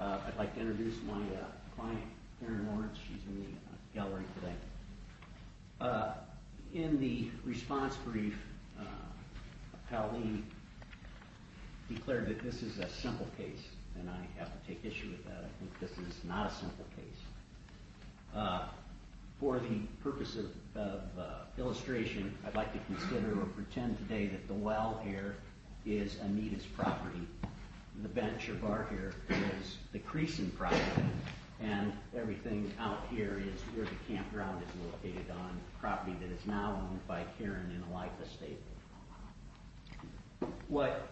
I'd like to introduce my client Erin Lawrence. She's in the gallery today. In the response brief, Pally declared that this is a simple case and I have to take issue with that. I think this is not a simple case. For the purpose of illustration, I'd like to consider or pretend today that the well here is Anita's property. The bench or bar here is the Creason property and everything out here is where the campground is located on property that is now owned by Karen and a lot of other people. What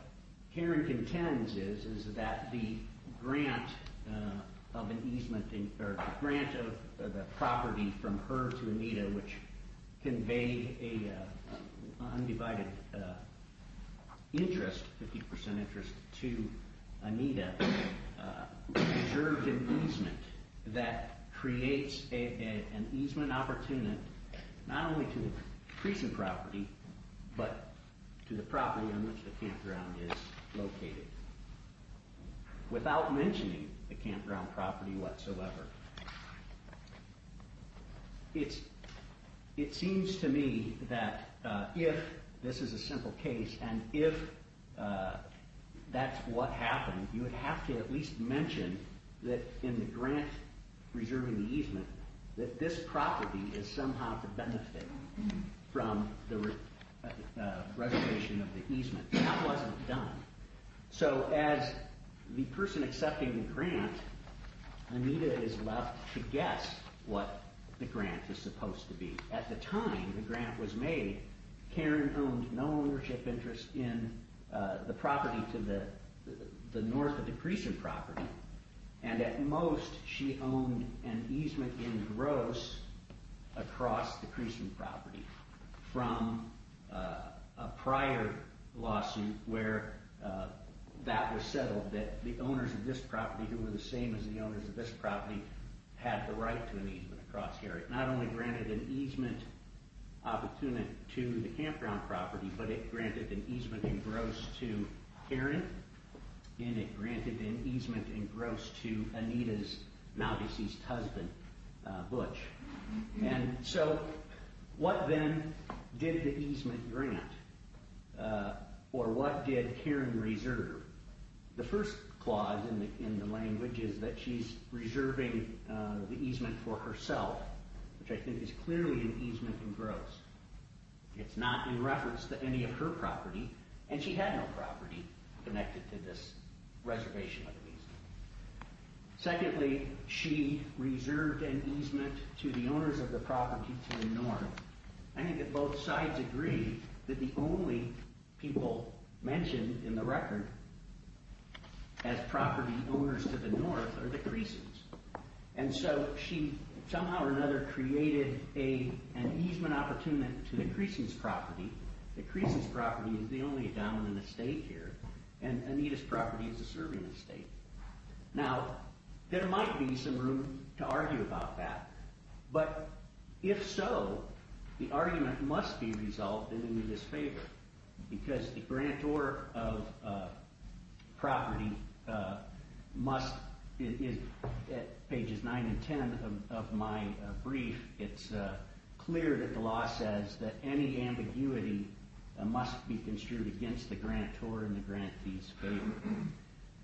Karen contends is that the grant of the property from her to Anita, which conveyed an undivided interest, 50% interest to Anita, served an easement that creates an easement opportunity not only to Creason property, but to Anita's property. But to the property on which the campground is located. Without mentioning the campground property whatsoever, it seems to me that if this is a simple case and if that's what happened, you would have to at least mention that in the grant reserving the easement that this property is somehow to benefit from the grant. Reservation of the easement. That wasn't done. So as the person accepting the grant, Anita is left to guess what the grant is supposed to be. At the time the grant was made, Karen owned no ownership interest in the property to the north of the Creason property. And at most she owned an easement in gross across the Creason property from a prior lawsuit where that was settled that the owners of this property, who were the same as the owners of this property, had the right to an easement across here. It not only granted an easement opportunity to the campground property, but it granted an easement in gross to Karen and it granted an easement in gross to Anita's now deceased husband, Butch. And so what then did the easement grant? Or what did Karen reserve? The first clause in the language is that she's reserving the easement for herself, which I think is clearly an easement in gross. It's not in reference to any of her property, and she had no property connected to this reservation of the easement. Secondly, she reserved an easement to the owners of the property to the north. I think that both sides agree that the only people mentioned in the record as property owners to the north are the Creasons. And so she somehow or another created an easement opportunity to the Creason's property. The Creason's property is the only dominant estate here, and Anita's property is a serving estate. Now, there might be some room to argue about that. But if so, the argument must be resolved in Anita's favor, because the grantor of property must, at pages 9 and 10 of my brief, it's clear that the law says that any ambiguity must be construed against the grantor and the grantee's favor.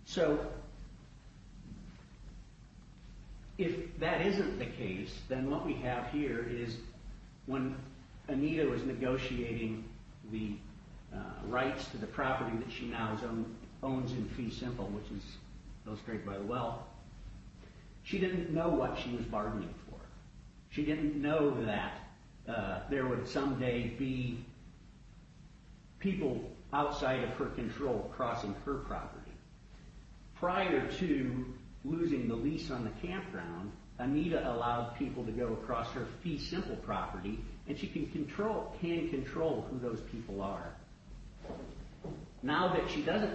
So if that isn't the case, then what we have here is when Anita was negotiating the rights to the property that she now owns in fee simple, which is illustrated by the well, she didn't know what she was bargaining for. She didn't know that there would someday be people outside of her control crossing her property. Prior to losing the lease on the campground, Anita allowed people to go across her fee simple property, and she can control who those people are. Now that she doesn't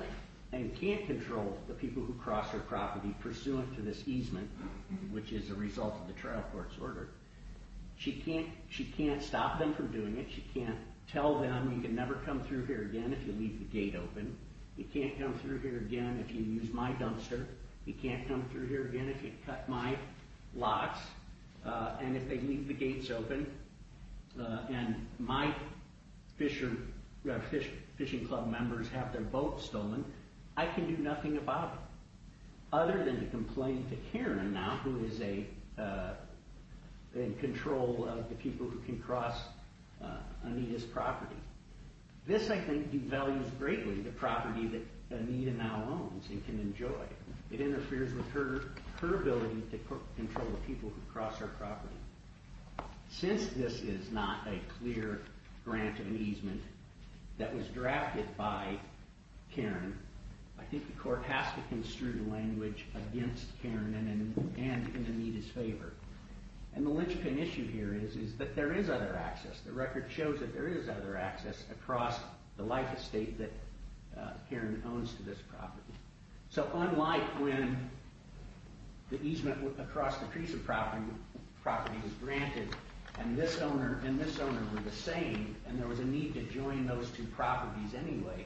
and can't control the people who cross her property pursuant to this easement, which is a result of the trial court's order, she can't stop them from doing it. She can't tell them, you can never come through here again if you leave the gate open. You can't come through here again if you use my dumpster. You can't come through here again if you cut my locks. And if they leave the gates open and my fishing club members have their boats stolen, I can do nothing about it, other than to complain to Karen now, who is in control of the people who can cross Anita's property. This, I think, devalues greatly the property that Anita now owns and can enjoy. It interferes with her ability to control the people who cross her property. Since this is not a clear grant of an easement that was drafted by Karen, I think the court has to construe language against Karen and in Anita's favor. And the linchpin issue here is that there is other access. The record shows that there is other access across the life estate that Karen owns to this property. So unlike when the easement across the Treson property was granted and this owner and this owner were the same and there was a need to join those two properties anyway,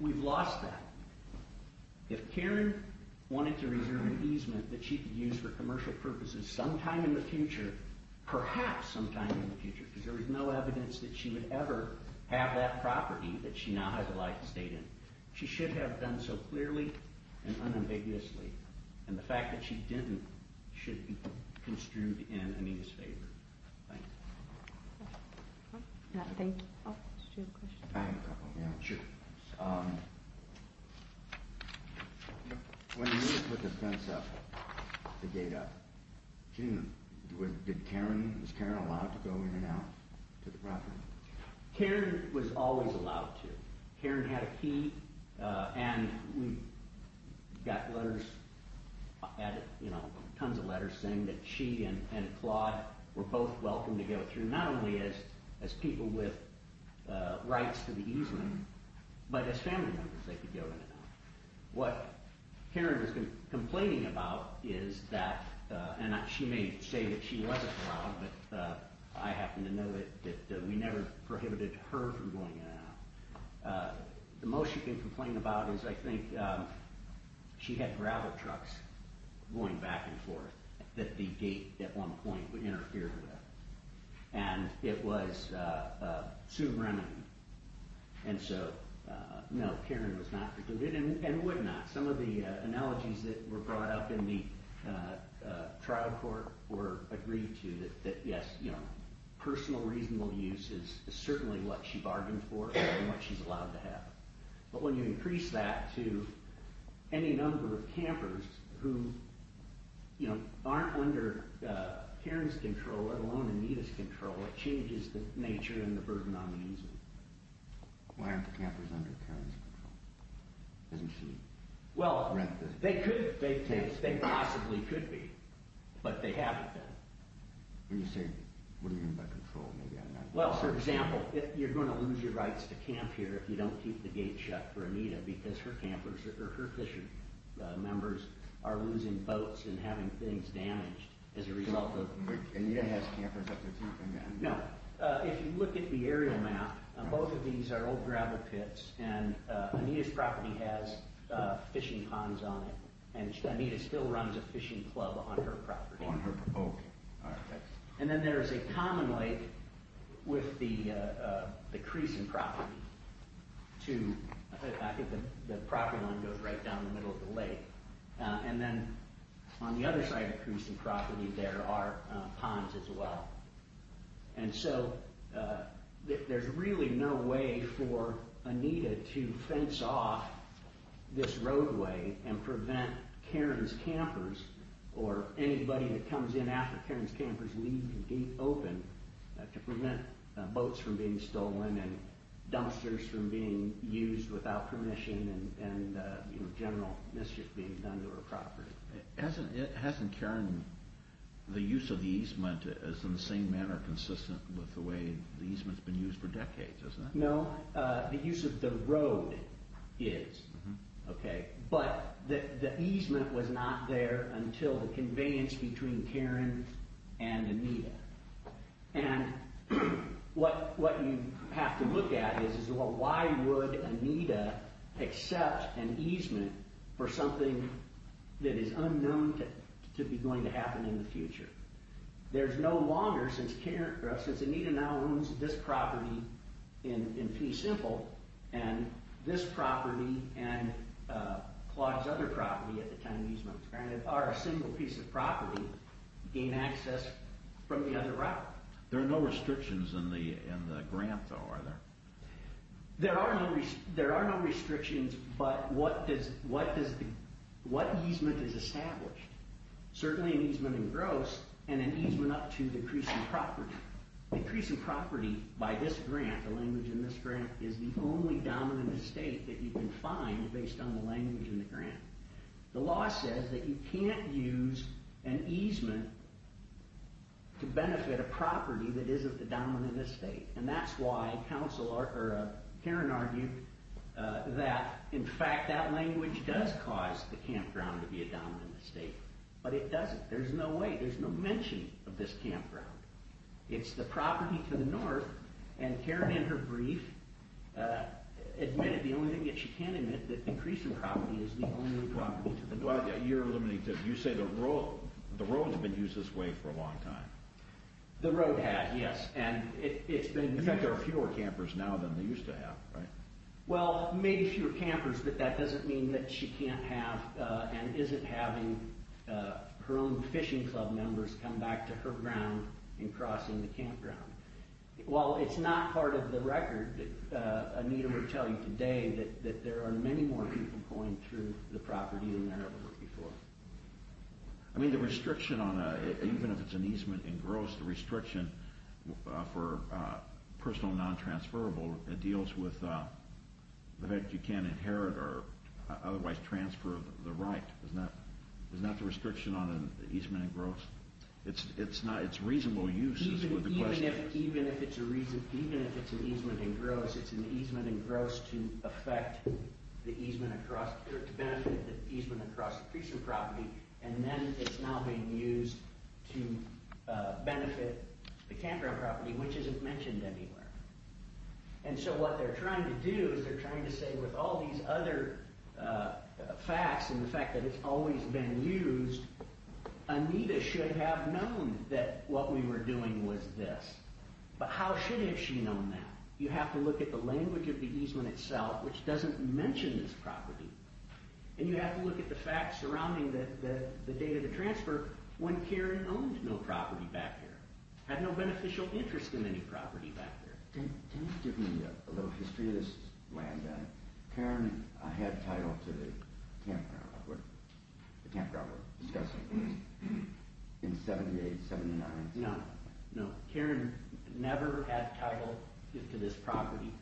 we've lost that. If Karen wanted to reserve an easement that she could use for commercial purposes sometime in the future, perhaps sometime in the future, because there is no evidence that she would ever have that property that she now had the life estate in, she should have done so clearly and unambiguously. And the fact that she didn't should be construed in Anita's favor. Thank you. I have a couple. When Anita put the fence up, the gate up, was Karen allowed to go in and out to the property? Karen was always allowed to. Karen had a key and we got letters, tons of letters saying that she and Claude were both welcome to go through, not only as people with rights to the easement, but as family members they could go in and out. What Karen was complaining about is that, and she may say that she wasn't allowed, but I happen to know that we never prohibited her from going in and out. The most she complained about is I think she had gravel trucks going back and forth that the gate at one point interfered with. And it was to remedy. And so no, Karen was not prohibited and would not. Some of the analogies that were brought up in the trial court were agreed to that yes, personal reasonable use is certainly what she bargained for and what she's allowed to have. But when you increase that to any number of campers who aren't under Karen's control, let alone Anita's control, it changes the nature and the burden on the easement. Why aren't the campers under Karen's control? They possibly could be, but they haven't been. What do you mean by control? Well, for example, you're going to lose your rights to camp here if you don't keep the gate shut for Anita because her campers or her fishing members are losing boats and having things damaged as a result of... Anita has campers up to keep them down? No. If you look at the aerial map, both of these are old gravel pits and Anita's property has fishing ponds on it. And Anita still runs a fishing club on her property. Oh, okay. And then there's a common lake with the Creason property. The property line goes right down the middle of the lake. And then on the other side of Creason property there are ponds as well. And so there's really no way for Anita to fence off this roadway and prevent Karen's campers or anybody that comes in after Karen's campers leaving the gate open to prevent boats from being stolen and dumpsters from being used without permission and general mischief being done to her property. Hasn't Karen... the use of the easement is in the same manner consistent with the way the easement's been used for decades, isn't it? No. The use of the road is. Okay. But the easement was not there until the conveyance between Karen and Anita. And what you have to look at is, well, why would Anita accept an easement for something that is unknown to be going to happen in the future? There's no longer, since Anita now owns this property in Pee Simple, and this property and Claude's other property at the time of easement are a single piece of property gain access from the other route. There are no restrictions in the grant, though, are there? There are no restrictions, but what easement is established? Certainly an easement in gross and an easement up to decreasing property. Decreasing property by this grant, the language in this grant, is the only dominant estate that you can find based on the language in the grant. The law says that you can't use an easement to benefit a property that isn't the dominant estate. And that's why Karen argued that, in fact, that language does cause the campground to be a dominant estate, but it doesn't. There's no way. There's no mention of this campground. It's the property to the north, and Karen in her brief admitted the only thing that she can admit, that decreasing property is the only property to the north. You're limiting to, you say the road has been used this way for a long time. The road has, yes. In fact, there are fewer campers now than there used to have, right? Well, maybe fewer campers, but that doesn't mean that she can't have and isn't having her own fishing club members come back to her ground and crossing the campground. While it's not part of the record, Anita would tell you today that there are many more people going through the property than there ever were before. I mean, the restriction on, even if it's an easement in gross, the restriction for personal non-transferable, it deals with the fact that you can't inherit or otherwise transfer the right. Isn't that the restriction on an easement in gross? It's reasonable use is what the question is. Even if it's a reason, even if it's an easement in gross, it's an easement in gross to affect the easement across, or to benefit the easement across the precinct property, and then it's now being used to benefit the campground property, which isn't mentioned anywhere. And so what they're trying to do is they're trying to say with all these other facts and the fact that it's always been used, Anita should have known that what we were doing was this. But how should have she known that? You have to look at the language of the easement itself, which doesn't mention this property. And you have to look at the facts surrounding the date of the transfer when Karen owned no property back there, had no beneficial interest in any property back there. Can you give me a little history of this land? Karen had title to the campground where the campground was discussed in 78, 79? No, no, Karen never had title to this property.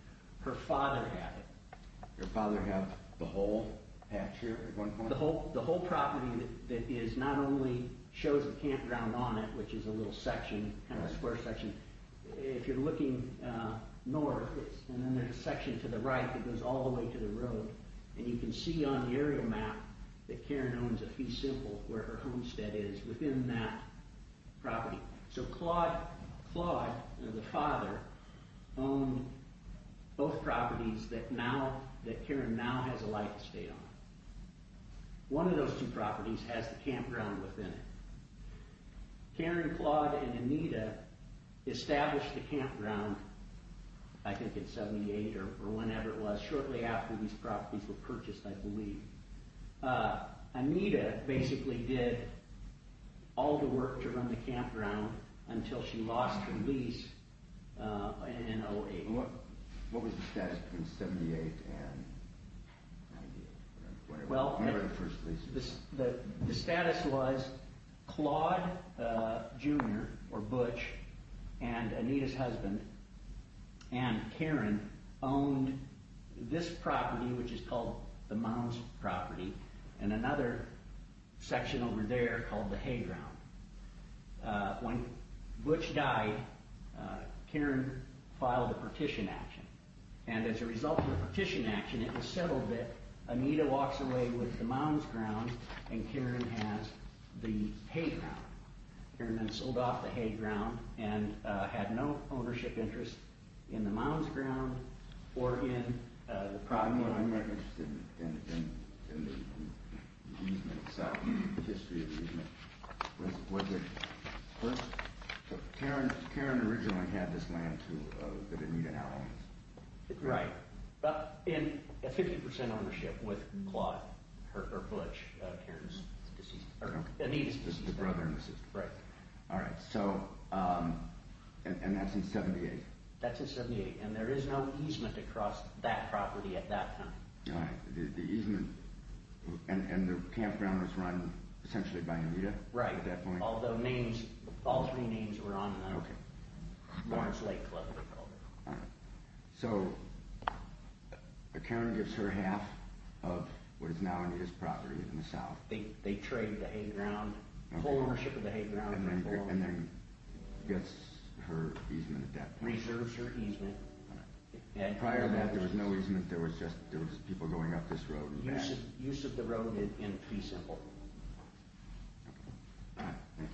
Her father had it. Your father had the whole patch here at one point? The whole property that is not only shows a campground on it, which is a little section, kind of a square section. If you're looking north, and then there's a section to the right that goes all the way to the road, and you can see on the aerial map that Karen owns a fee simple where her homestead is within that property. So Claude, Claude, the father, owned both properties that Karen now has a life estate on. One of those two properties has the campground within it. Karen, Claude, and Anita established the campground, I think in 78 or whenever it was, shortly after these properties were purchased, I believe. Anita basically did all the work to run the campground until she lost her lease in 08. What was the status between 78 and 98? Well, the status was Claude Jr., or Butch, and Anita's husband, and Karen, owned this property, which is called the Mounds property, and another section over there called the Hayground. When Butch died, Karen filed a partition action. As a result of the partition action, it was settled that Anita walks away with the Mounds grounds, and Karen has the Hayground. Karen then sold off the Hayground and had no ownership interest in the Mounds ground or in the property. I'm more interested in the easement side, the history of the easement. Karen originally had this land that Anita now owns. Right. In 50% ownership with Claude, or Butch, Anita's brother and sister. Right. All right, and that's in 78? That's in 78, and there is no easement across that property at that time. All right. The easement and the campground was run essentially by Anita at that point? Right, although all three names were on that. Okay. Mounds Lake Club, they called it. All right. So Karen gives her half of what is now Anita's property in the south. They trade the Hayground, whole ownership of the Hayground. And then gets her easement at that point. Reserves her easement. All right. Prior to that, there was no easement. There was just people going up this road and back. Use of the road in Fee Simple. All right, thank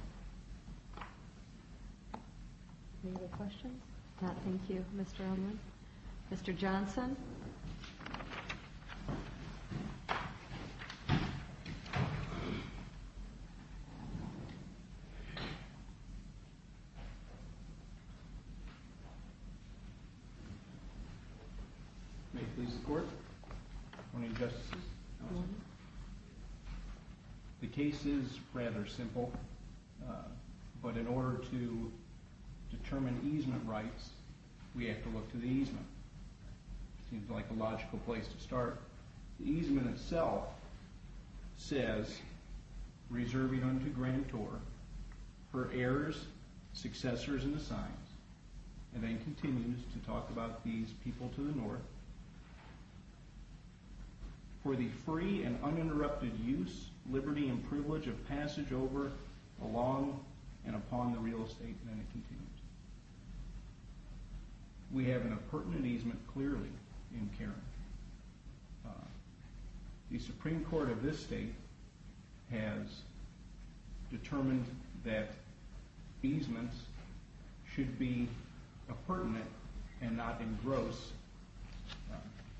you. Any other questions? No, thank you, Mr. Edmund. Mr. Johnson? May it please the Court. Good morning, Justices. Good morning. The case is rather simple, but in order to determine easement rights, we have to look to the easement. Seems like a logical place to start. The easement itself says, reserving unto Grantor, her heirs, successors, and assigns, and then continues to talk about these people to the north. For the free and uninterrupted use, liberty, and privilege of passage over, along, and upon the real estate, and then it continues. We have an appurtenant easement clearly in Karen. The Supreme Court of this state has determined that easements should be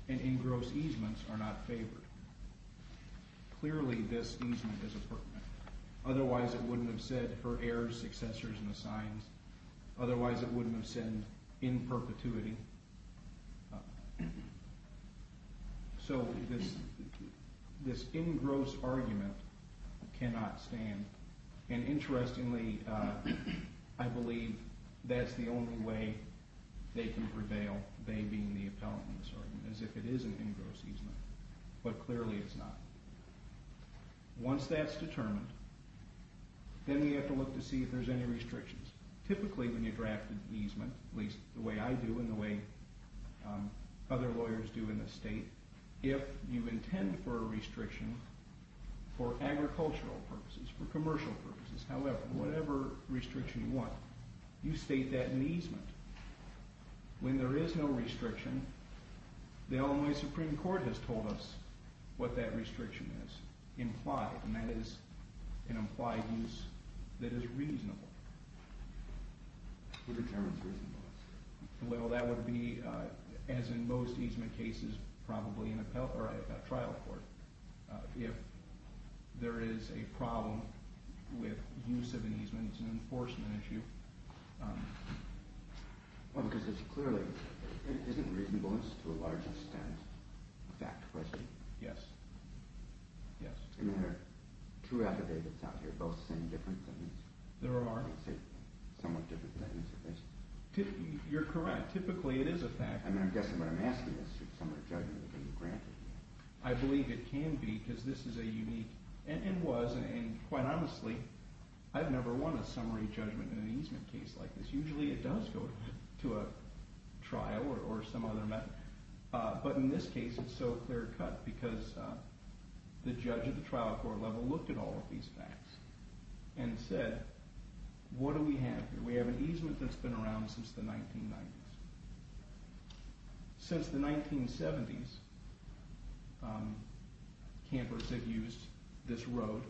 And engrossed easements are not favored. Clearly, this easement is appurtenant. Otherwise, it wouldn't have said, her heirs, successors, and assigns. Otherwise, it wouldn't have said, in perpetuity. So this engrossed argument cannot stand. And interestingly, I believe that's the only way they can prevail, they being the appellant in this argument, as if it is an engrossed easement. But clearly, it's not. Once that's determined, then we have to look to see if there's any restrictions. Typically, when you draft an easement, at least the way I do and the way other lawyers do in this state, if you intend for a restriction for agricultural purposes, for commercial purposes, however, whatever restriction you want, you state that in the easement. When there is no restriction, the Illinois Supreme Court has told us what that restriction is, implied, and that is an implied use that is reasonable. Who determines reasonable? Well, that would be, as in most easement cases, probably a trial court. If there is a problem with use of an easement, it's an enforcement issue, Well, because it's clearly, isn't reasonableness to a large extent a fact question? Yes. Yes. I mean, are true affidavits out here both saying different things? There are. They say somewhat different things? You're correct. Typically, it is a fact. I mean, I'm guessing what I'm asking is, should summary judgment be granted? I believe it can be, because this is a unique, and was, and quite honestly, I've never won a summary judgment in an easement case like this. Usually, it does go to a trial or some other method, but in this case, it's so clear cut because the judge at the trial court level looked at all of these facts and said, what do we have here? We have an easement that's been around since the 1990s. Since the 1970s, campers have used this road.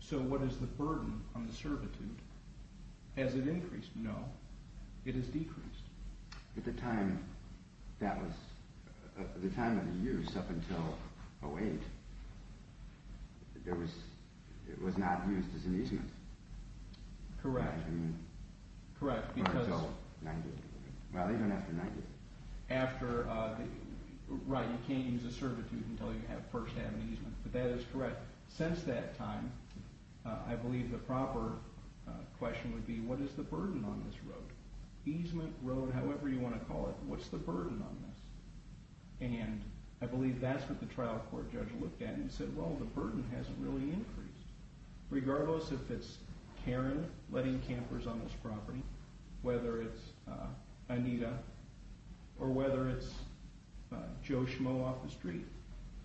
So what is the burden on the servitude? Has it increased? No. It has decreased. At the time that was, the time of the use up until 08, it was not used as an easement. Correct. I mean, not until 90. Well, even after 90. Right, you can't use a servitude until you first have an easement, but that is correct. Since that time, I believe the proper question would be, what is the burden on this road? Easement, road, however you want to call it, what's the burden on this? And I believe that's what the trial court judge looked at and said, well, the burden hasn't really increased. Regardless if it's Karen letting campers on this property, whether it's Anita, or whether it's Joe Schmo off the street,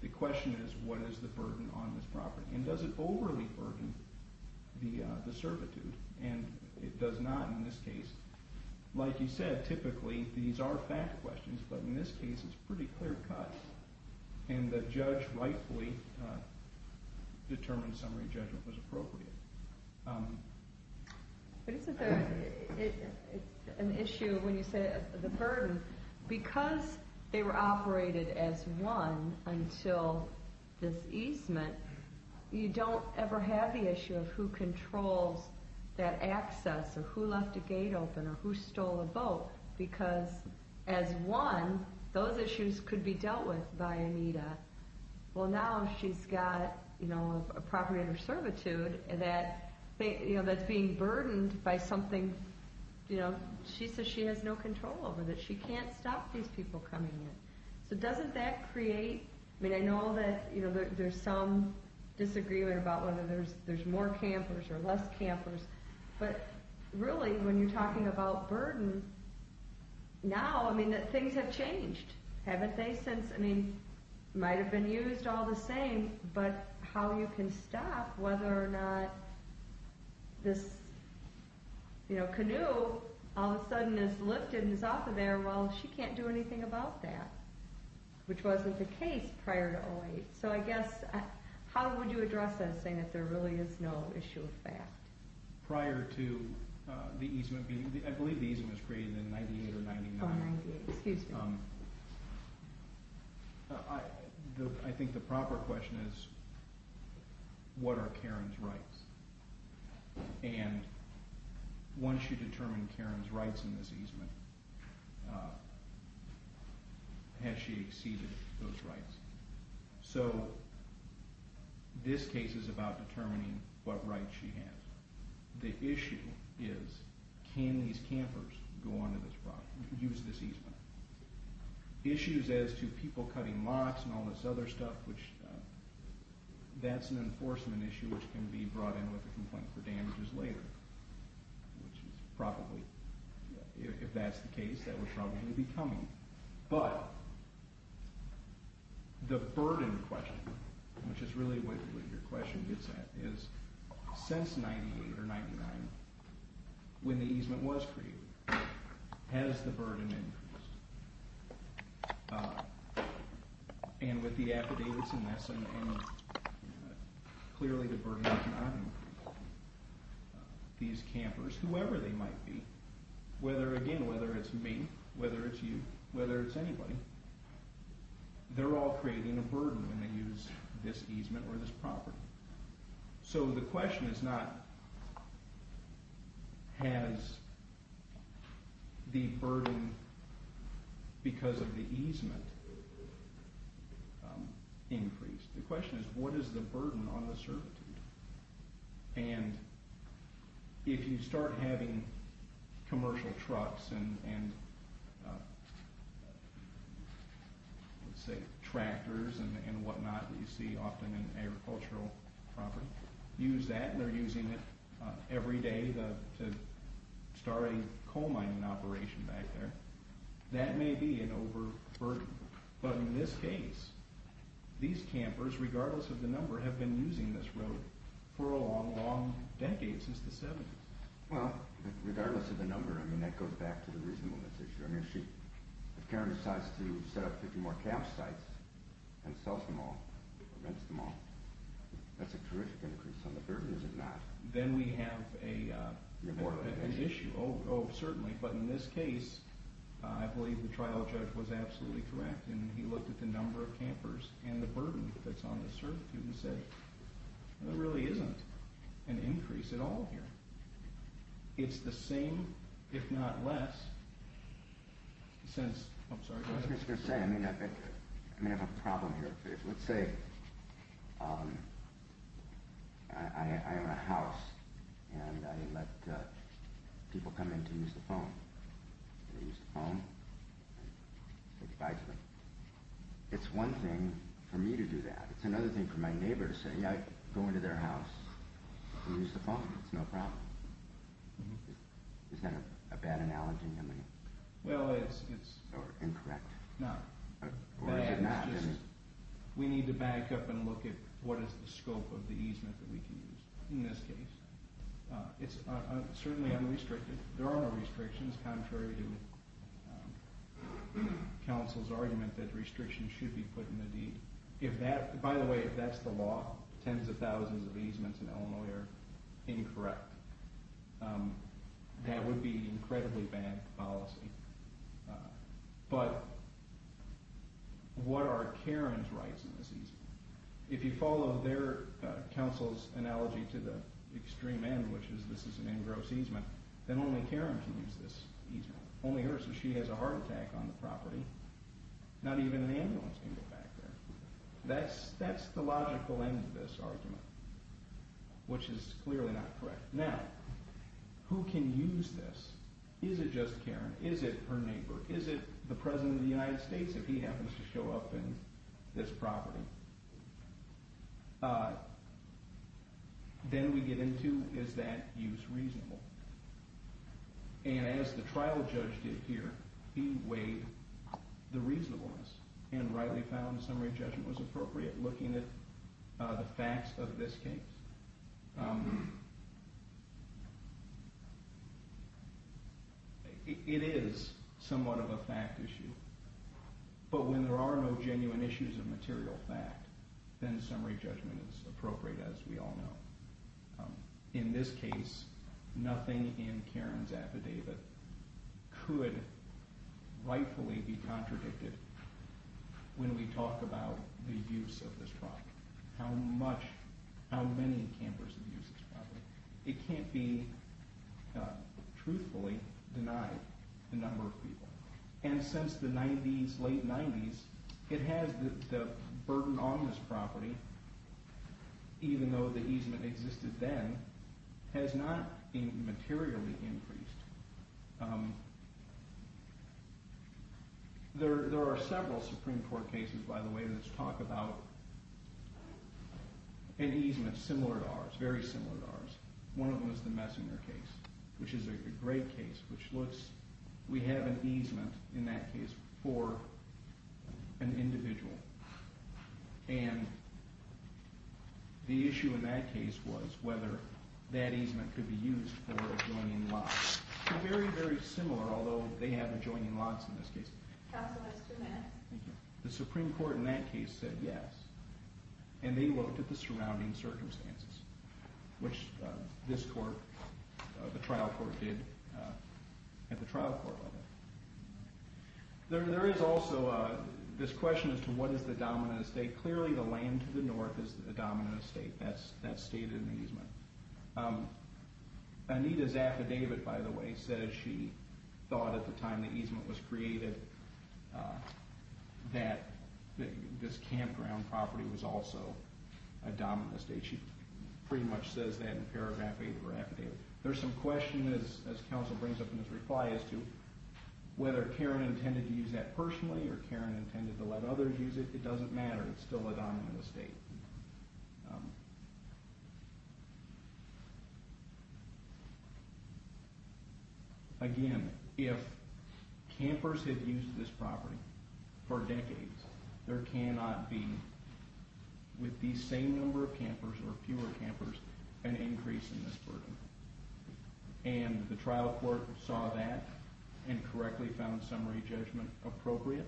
the question is, what is the burden on this property? And does it overly burden the servitude? And it does not in this case. Like you said, typically these are fact questions, but in this case it's a pretty clear cut. And the judge rightfully determined summary judgment was appropriate. But isn't there an issue when you say the burden? Because they were operated as one until this easement, you don't ever have the issue of who controls that access, or who left a gate open, or who stole a boat. Because as one, those issues could be dealt with by Anita. Well, now she's got a property under servitude that's being burdened by something she says she has no control over, that she can't stop these people coming in. So doesn't that create, I mean I know that there's some disagreement about whether there's more campers or less campers, but really when you're talking about burden, now things have changed, haven't they? Might have been used all the same, but how you can stop whether or not this canoe all of a sudden is lifted and is off of there, well, she can't do anything about that, which wasn't the case prior to 08. So I guess, how would you address that saying that there really is no issue of fact? Prior to the easement being, I believe the easement was created in 98 or 99. Oh, 98, excuse me. I think the proper question is, what are Karen's rights? And once you determine Karen's rights in this easement, has she exceeded those rights? So this case is about determining what rights she has. The issue is, can these campers go onto this property, use this easement? Issues as to people cutting mocks and all this other stuff, that's an enforcement issue which can be brought in with a complaint for damages later, which is probably, if that's the case, that would probably be coming. But the burden question, which is really what your question gets at, is since 98 or 99, when the easement was created, has the burden increased? And with the affidavits and that sort of thing, clearly the burden has not increased. These campers, whoever they might be, whether, again, whether it's me, whether it's you, whether it's anybody, they're all creating a burden when they use this easement or this property. So the question is not, has the burden because of the easement increased? The question is, what is the burden on the servitude? And if you start having commercial trucks and, let's say, tractors and whatnot that you see often in agricultural property, use that, and they're using it every day to start a coal mining operation back there, that may be an overburden. But in this case, these campers, regardless of the number, have been using this road for a long, long decade, since the 70s. Well, regardless of the number, I mean, that goes back to the reasonableness issue. I mean, if Karen decides to set up 50 more campsites and sells them all, rents them all, that's a terrific increase on the burden, is it not? Then we have an issue. Oh, certainly. But in this case, I believe the trial judge was absolutely correct, and he looked at the number of campers and the burden that's on the servitude and said, there really isn't an increase at all here. It's the same, if not less, since—I'm sorry, go ahead. I was just going to say, I may have a problem here. Let's say I own a house and I let people come in to use the phone. They use the phone and say goodbye to them. It's one thing for me to do that. It's another thing for my neighbor to say, yeah, go into their house and use the phone. It's no problem. Is that a bad analogy? Well, it's— Or incorrect? No. We need to back up and look at what is the scope of the easement that we can use in this case. It's certainly unrestricted. There are no restrictions, contrary to counsel's argument that restrictions should be put in the deed. By the way, if that's the law, tens of thousands of easements in Illinois are incorrect. That would be an incredibly bad policy. But what are Karen's rights in this easement? If you follow their counsel's analogy to the extreme end, which is this is an engrossed easement, then only Karen can use this easement, only her, so she has a heart attack on the property. Not even an ambulance can get back there. That's the logical end of this argument, which is clearly not correct. Is it just Karen? Is it her neighbor? Is it the President of the United States if he happens to show up in this property? Then we get into is that use reasonable? And as the trial judge did here, he weighed the reasonableness and rightly found the summary judgment was appropriate looking at the facts of this case. It is somewhat of a fact issue. But when there are no genuine issues of material fact, then summary judgment is appropriate, as we all know. In this case, nothing in Karen's affidavit could rightfully be contradicted when we talk about the use of this property. How much, how many campers have used this property? It can't be truthfully denied the number of people. And since the 90s, late 90s, it has the burden on this property, even though the easement existed then, has not been materially increased. There are several Supreme Court cases, by the way, that talk about an easement similar to ours, very similar to ours. One of them is the Messinger case, which is a great case. We have an easement in that case for an individual. And the issue in that case was whether that easement could be used for adjoining lots. They're very, very similar, although they have adjoining lots in this case. Counsel, that's two minutes. Thank you. The Supreme Court in that case said yes, and they looked at the surrounding circumstances, which this court, the trial court, did at the trial court level. There is also this question as to what is the dominant estate. Clearly, the land to the north is the dominant estate. That's stated in the easement. Anita's affidavit, by the way, says she thought at the time the easement was created that this campground property was also a dominant estate. She pretty much says that in paragraph 8 of her affidavit. There's some question, as counsel brings up in his reply, as to whether Karen intended to use that personally or Karen intended to let others use it. It doesn't matter. It's still a dominant estate. Again, if campers had used this property for decades, there cannot be, with the same number of campers or fewer campers, an increase in this burden. And the trial court saw that and correctly found summary judgment appropriate.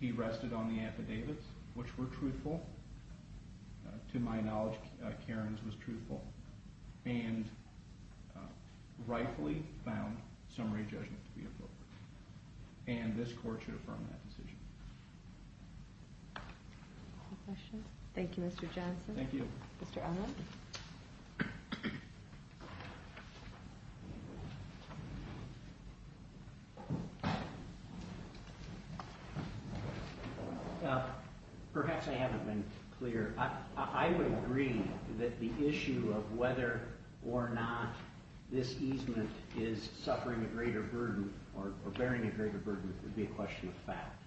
He rested on the affidavits, which were truthful. To my knowledge, Karen's was truthful. And this court should affirm that decision. Any questions? Thank you, Mr. Johnson. Thank you. Mr. Elman. Perhaps I haven't been clear. I would agree that the issue of whether or not this easement is suffering a greater burden or bearing a greater burden would be a question of fact.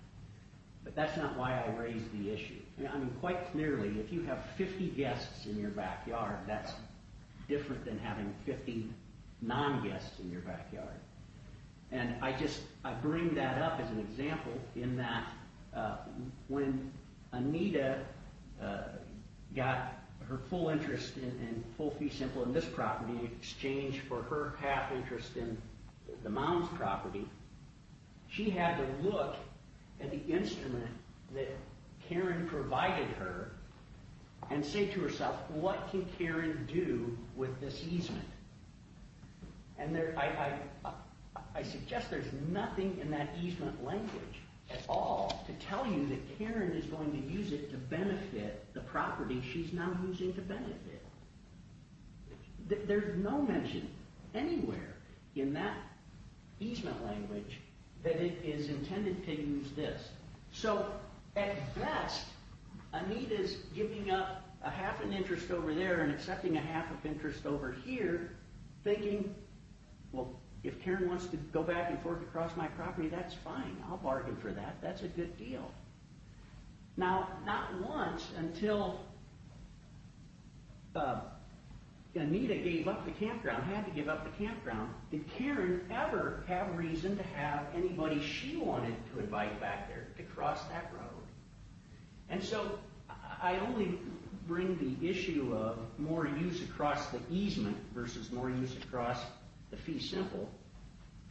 But that's not why I raised the issue. Quite clearly, if you have 50 guests in your backyard, that's different than having 50 non-guests in your backyard. And I bring that up as an example in that when Anita got her full interest in Full Fee Simple in this property in exchange for her half interest in the Mounds property, she had to look at the instrument that Karen provided her and say to herself, what can Karen do with this easement? And I suggest there's nothing in that easement language at all to tell you that Karen is going to use it to benefit the property she's now using to benefit. There's no mention anywhere in that easement language that it is intended to use this. So at best, Anita's giving up half an interest over there and accepting a half of interest over here, thinking, well, if Karen wants to go back and forth across my property, that's fine. I'll bargain for that. That's a good deal. Now, not once until Anita gave up the campground, had to give up the campground, did Karen ever have reason to have anybody she wanted to invite back there to cross that road. And so I only bring the issue of more use across the easement versus more use across the Fee Simple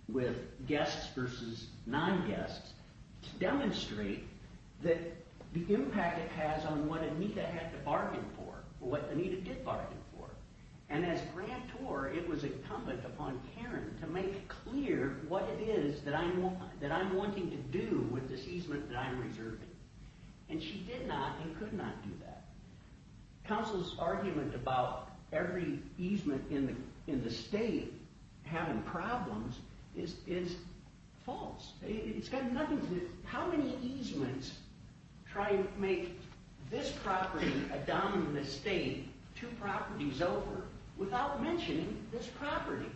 with guests versus non-guests to demonstrate that the impact it has on what Anita had to bargain for or what Anita did bargain for. And as grantor, it was incumbent upon Karen to make clear what it is that I'm wanting to do with this easement that I'm reserving. And she did not and could not do that. Counsel's argument about every easement in the state having problems is false. It's got nothing to do with how many easements try and make this property a dominant estate, two properties over, without mentioning this property.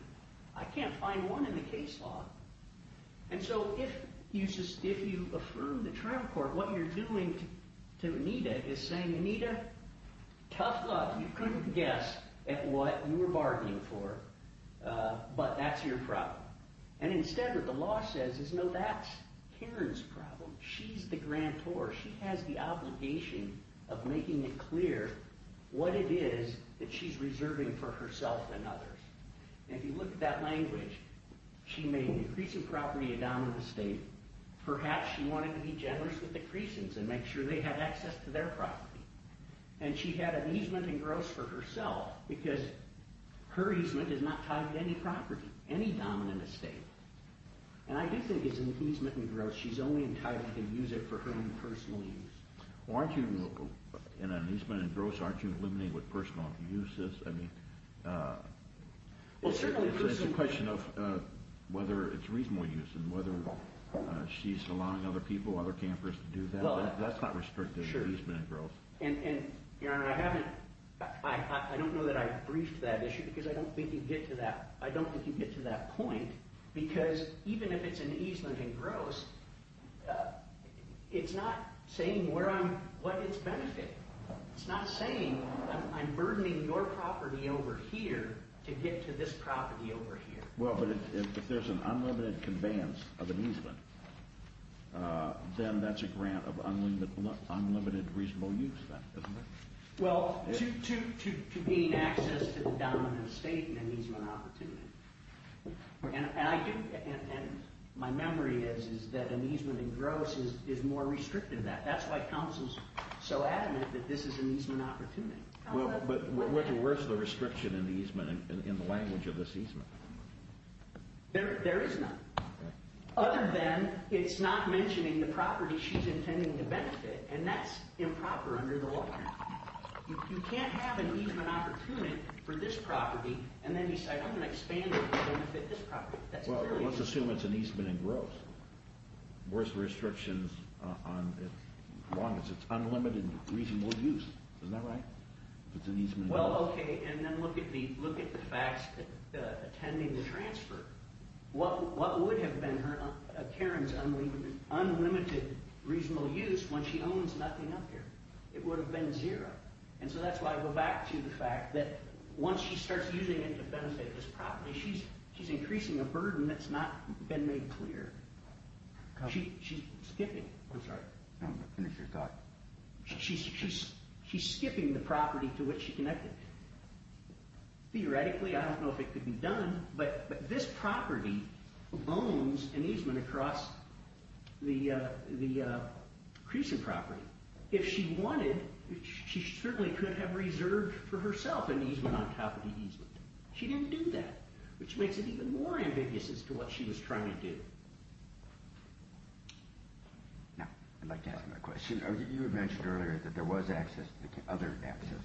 I can't find one in the case law. And so if you affirm the trial court what you're doing to Anita is saying, Anita, tough luck. You couldn't guess at what you were bargaining for, but that's your problem. And instead what the law says is, no, that's Karen's problem. She's the grantor. She has the obligation of making it clear what it is that she's reserving for herself and others. And if you look at that language, she made the creasant property a dominant estate. Perhaps she wanted to be generous with the creasants and make sure they had access to their property. And she had an easement and gross for herself because her easement is not tied to any property, any dominant estate. And I do think it's an easement and gross. She's only entitled to use it for her own personal use. Well, aren't you in an easement and gross, aren't you eliminated with personal uses? I mean, it's a question of whether it's reasonable use and whether she's allowing other people, other campers to do that. That's not restricted easement and gross. And, Your Honor, I don't know that I briefed that issue because I don't think you get to that. I don't think you get to that point because even if it's an easement and gross, it's not saying what its benefit. It's not saying I'm burdening your property over here to get to this property over here. Well, but if there's an unlimited conveyance of an easement, then that's a grant of unlimited reasonable use then, isn't it? Well, to gain access to the dominant estate and an easement opportunity. And my memory is that an easement and gross is more restrictive than that. That's why counsel's so adamant that this is an easement opportunity. But where's the restriction in the language of this easement? There is none. Other than it's not mentioning the property she's intending to benefit, and that's improper under the law. You can't have an easement opportunity for this property and then decide I'm going to expand it to benefit this property. Well, let's assume it's an easement and gross. Where's the restrictions on as long as it's unlimited reasonable use? Isn't that right? What would have been Karen's unlimited reasonable use when she owns nothing up here? It would have been zero. And so that's why I go back to the fact that once she starts using it to benefit this property, she's increasing a burden that's not been made clear. She's skipping. I'm sorry. She's skipping the property to which she connected. Theoretically, I don't know if it could be done, but this property owns an easement across the Creason property. If she wanted, she certainly could have reserved for herself an easement on top of the easement. She didn't do that, which makes it even more ambiguous as to what she was trying to do. Now, I'd like to ask another question. You had mentioned earlier that there was other access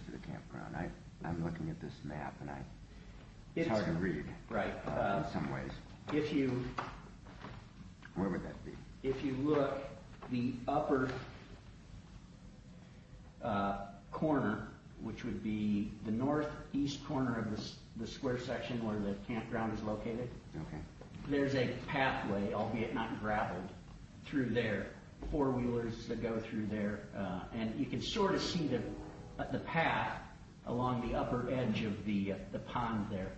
to the campground. I'm looking at this map, and it's hard to read in some ways. Where would that be? If you look, the upper corner, which would be the northeast corner of the square section where the campground is located, there's a pathway, albeit not gravel, through there, four-wheelers that go through there. You can sort of see the path along the upper edge of the pond there.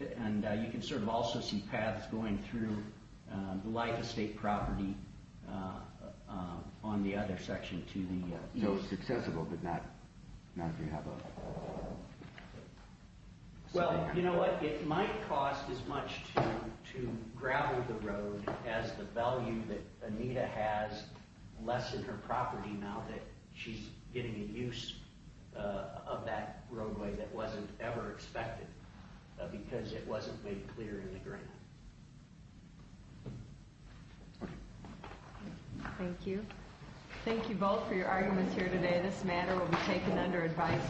You can sort of also see paths going through the life estate property on the other section to the east. So it's accessible, but not if you have a... Well, you know what? It might cost as much to gravel the road as the value that Anita has less in her property now that she's getting a use of that roadway that wasn't ever expected because it wasn't made clear in the grant. Thank you. Thank you both for your arguments here today. This matter will be taken under advice.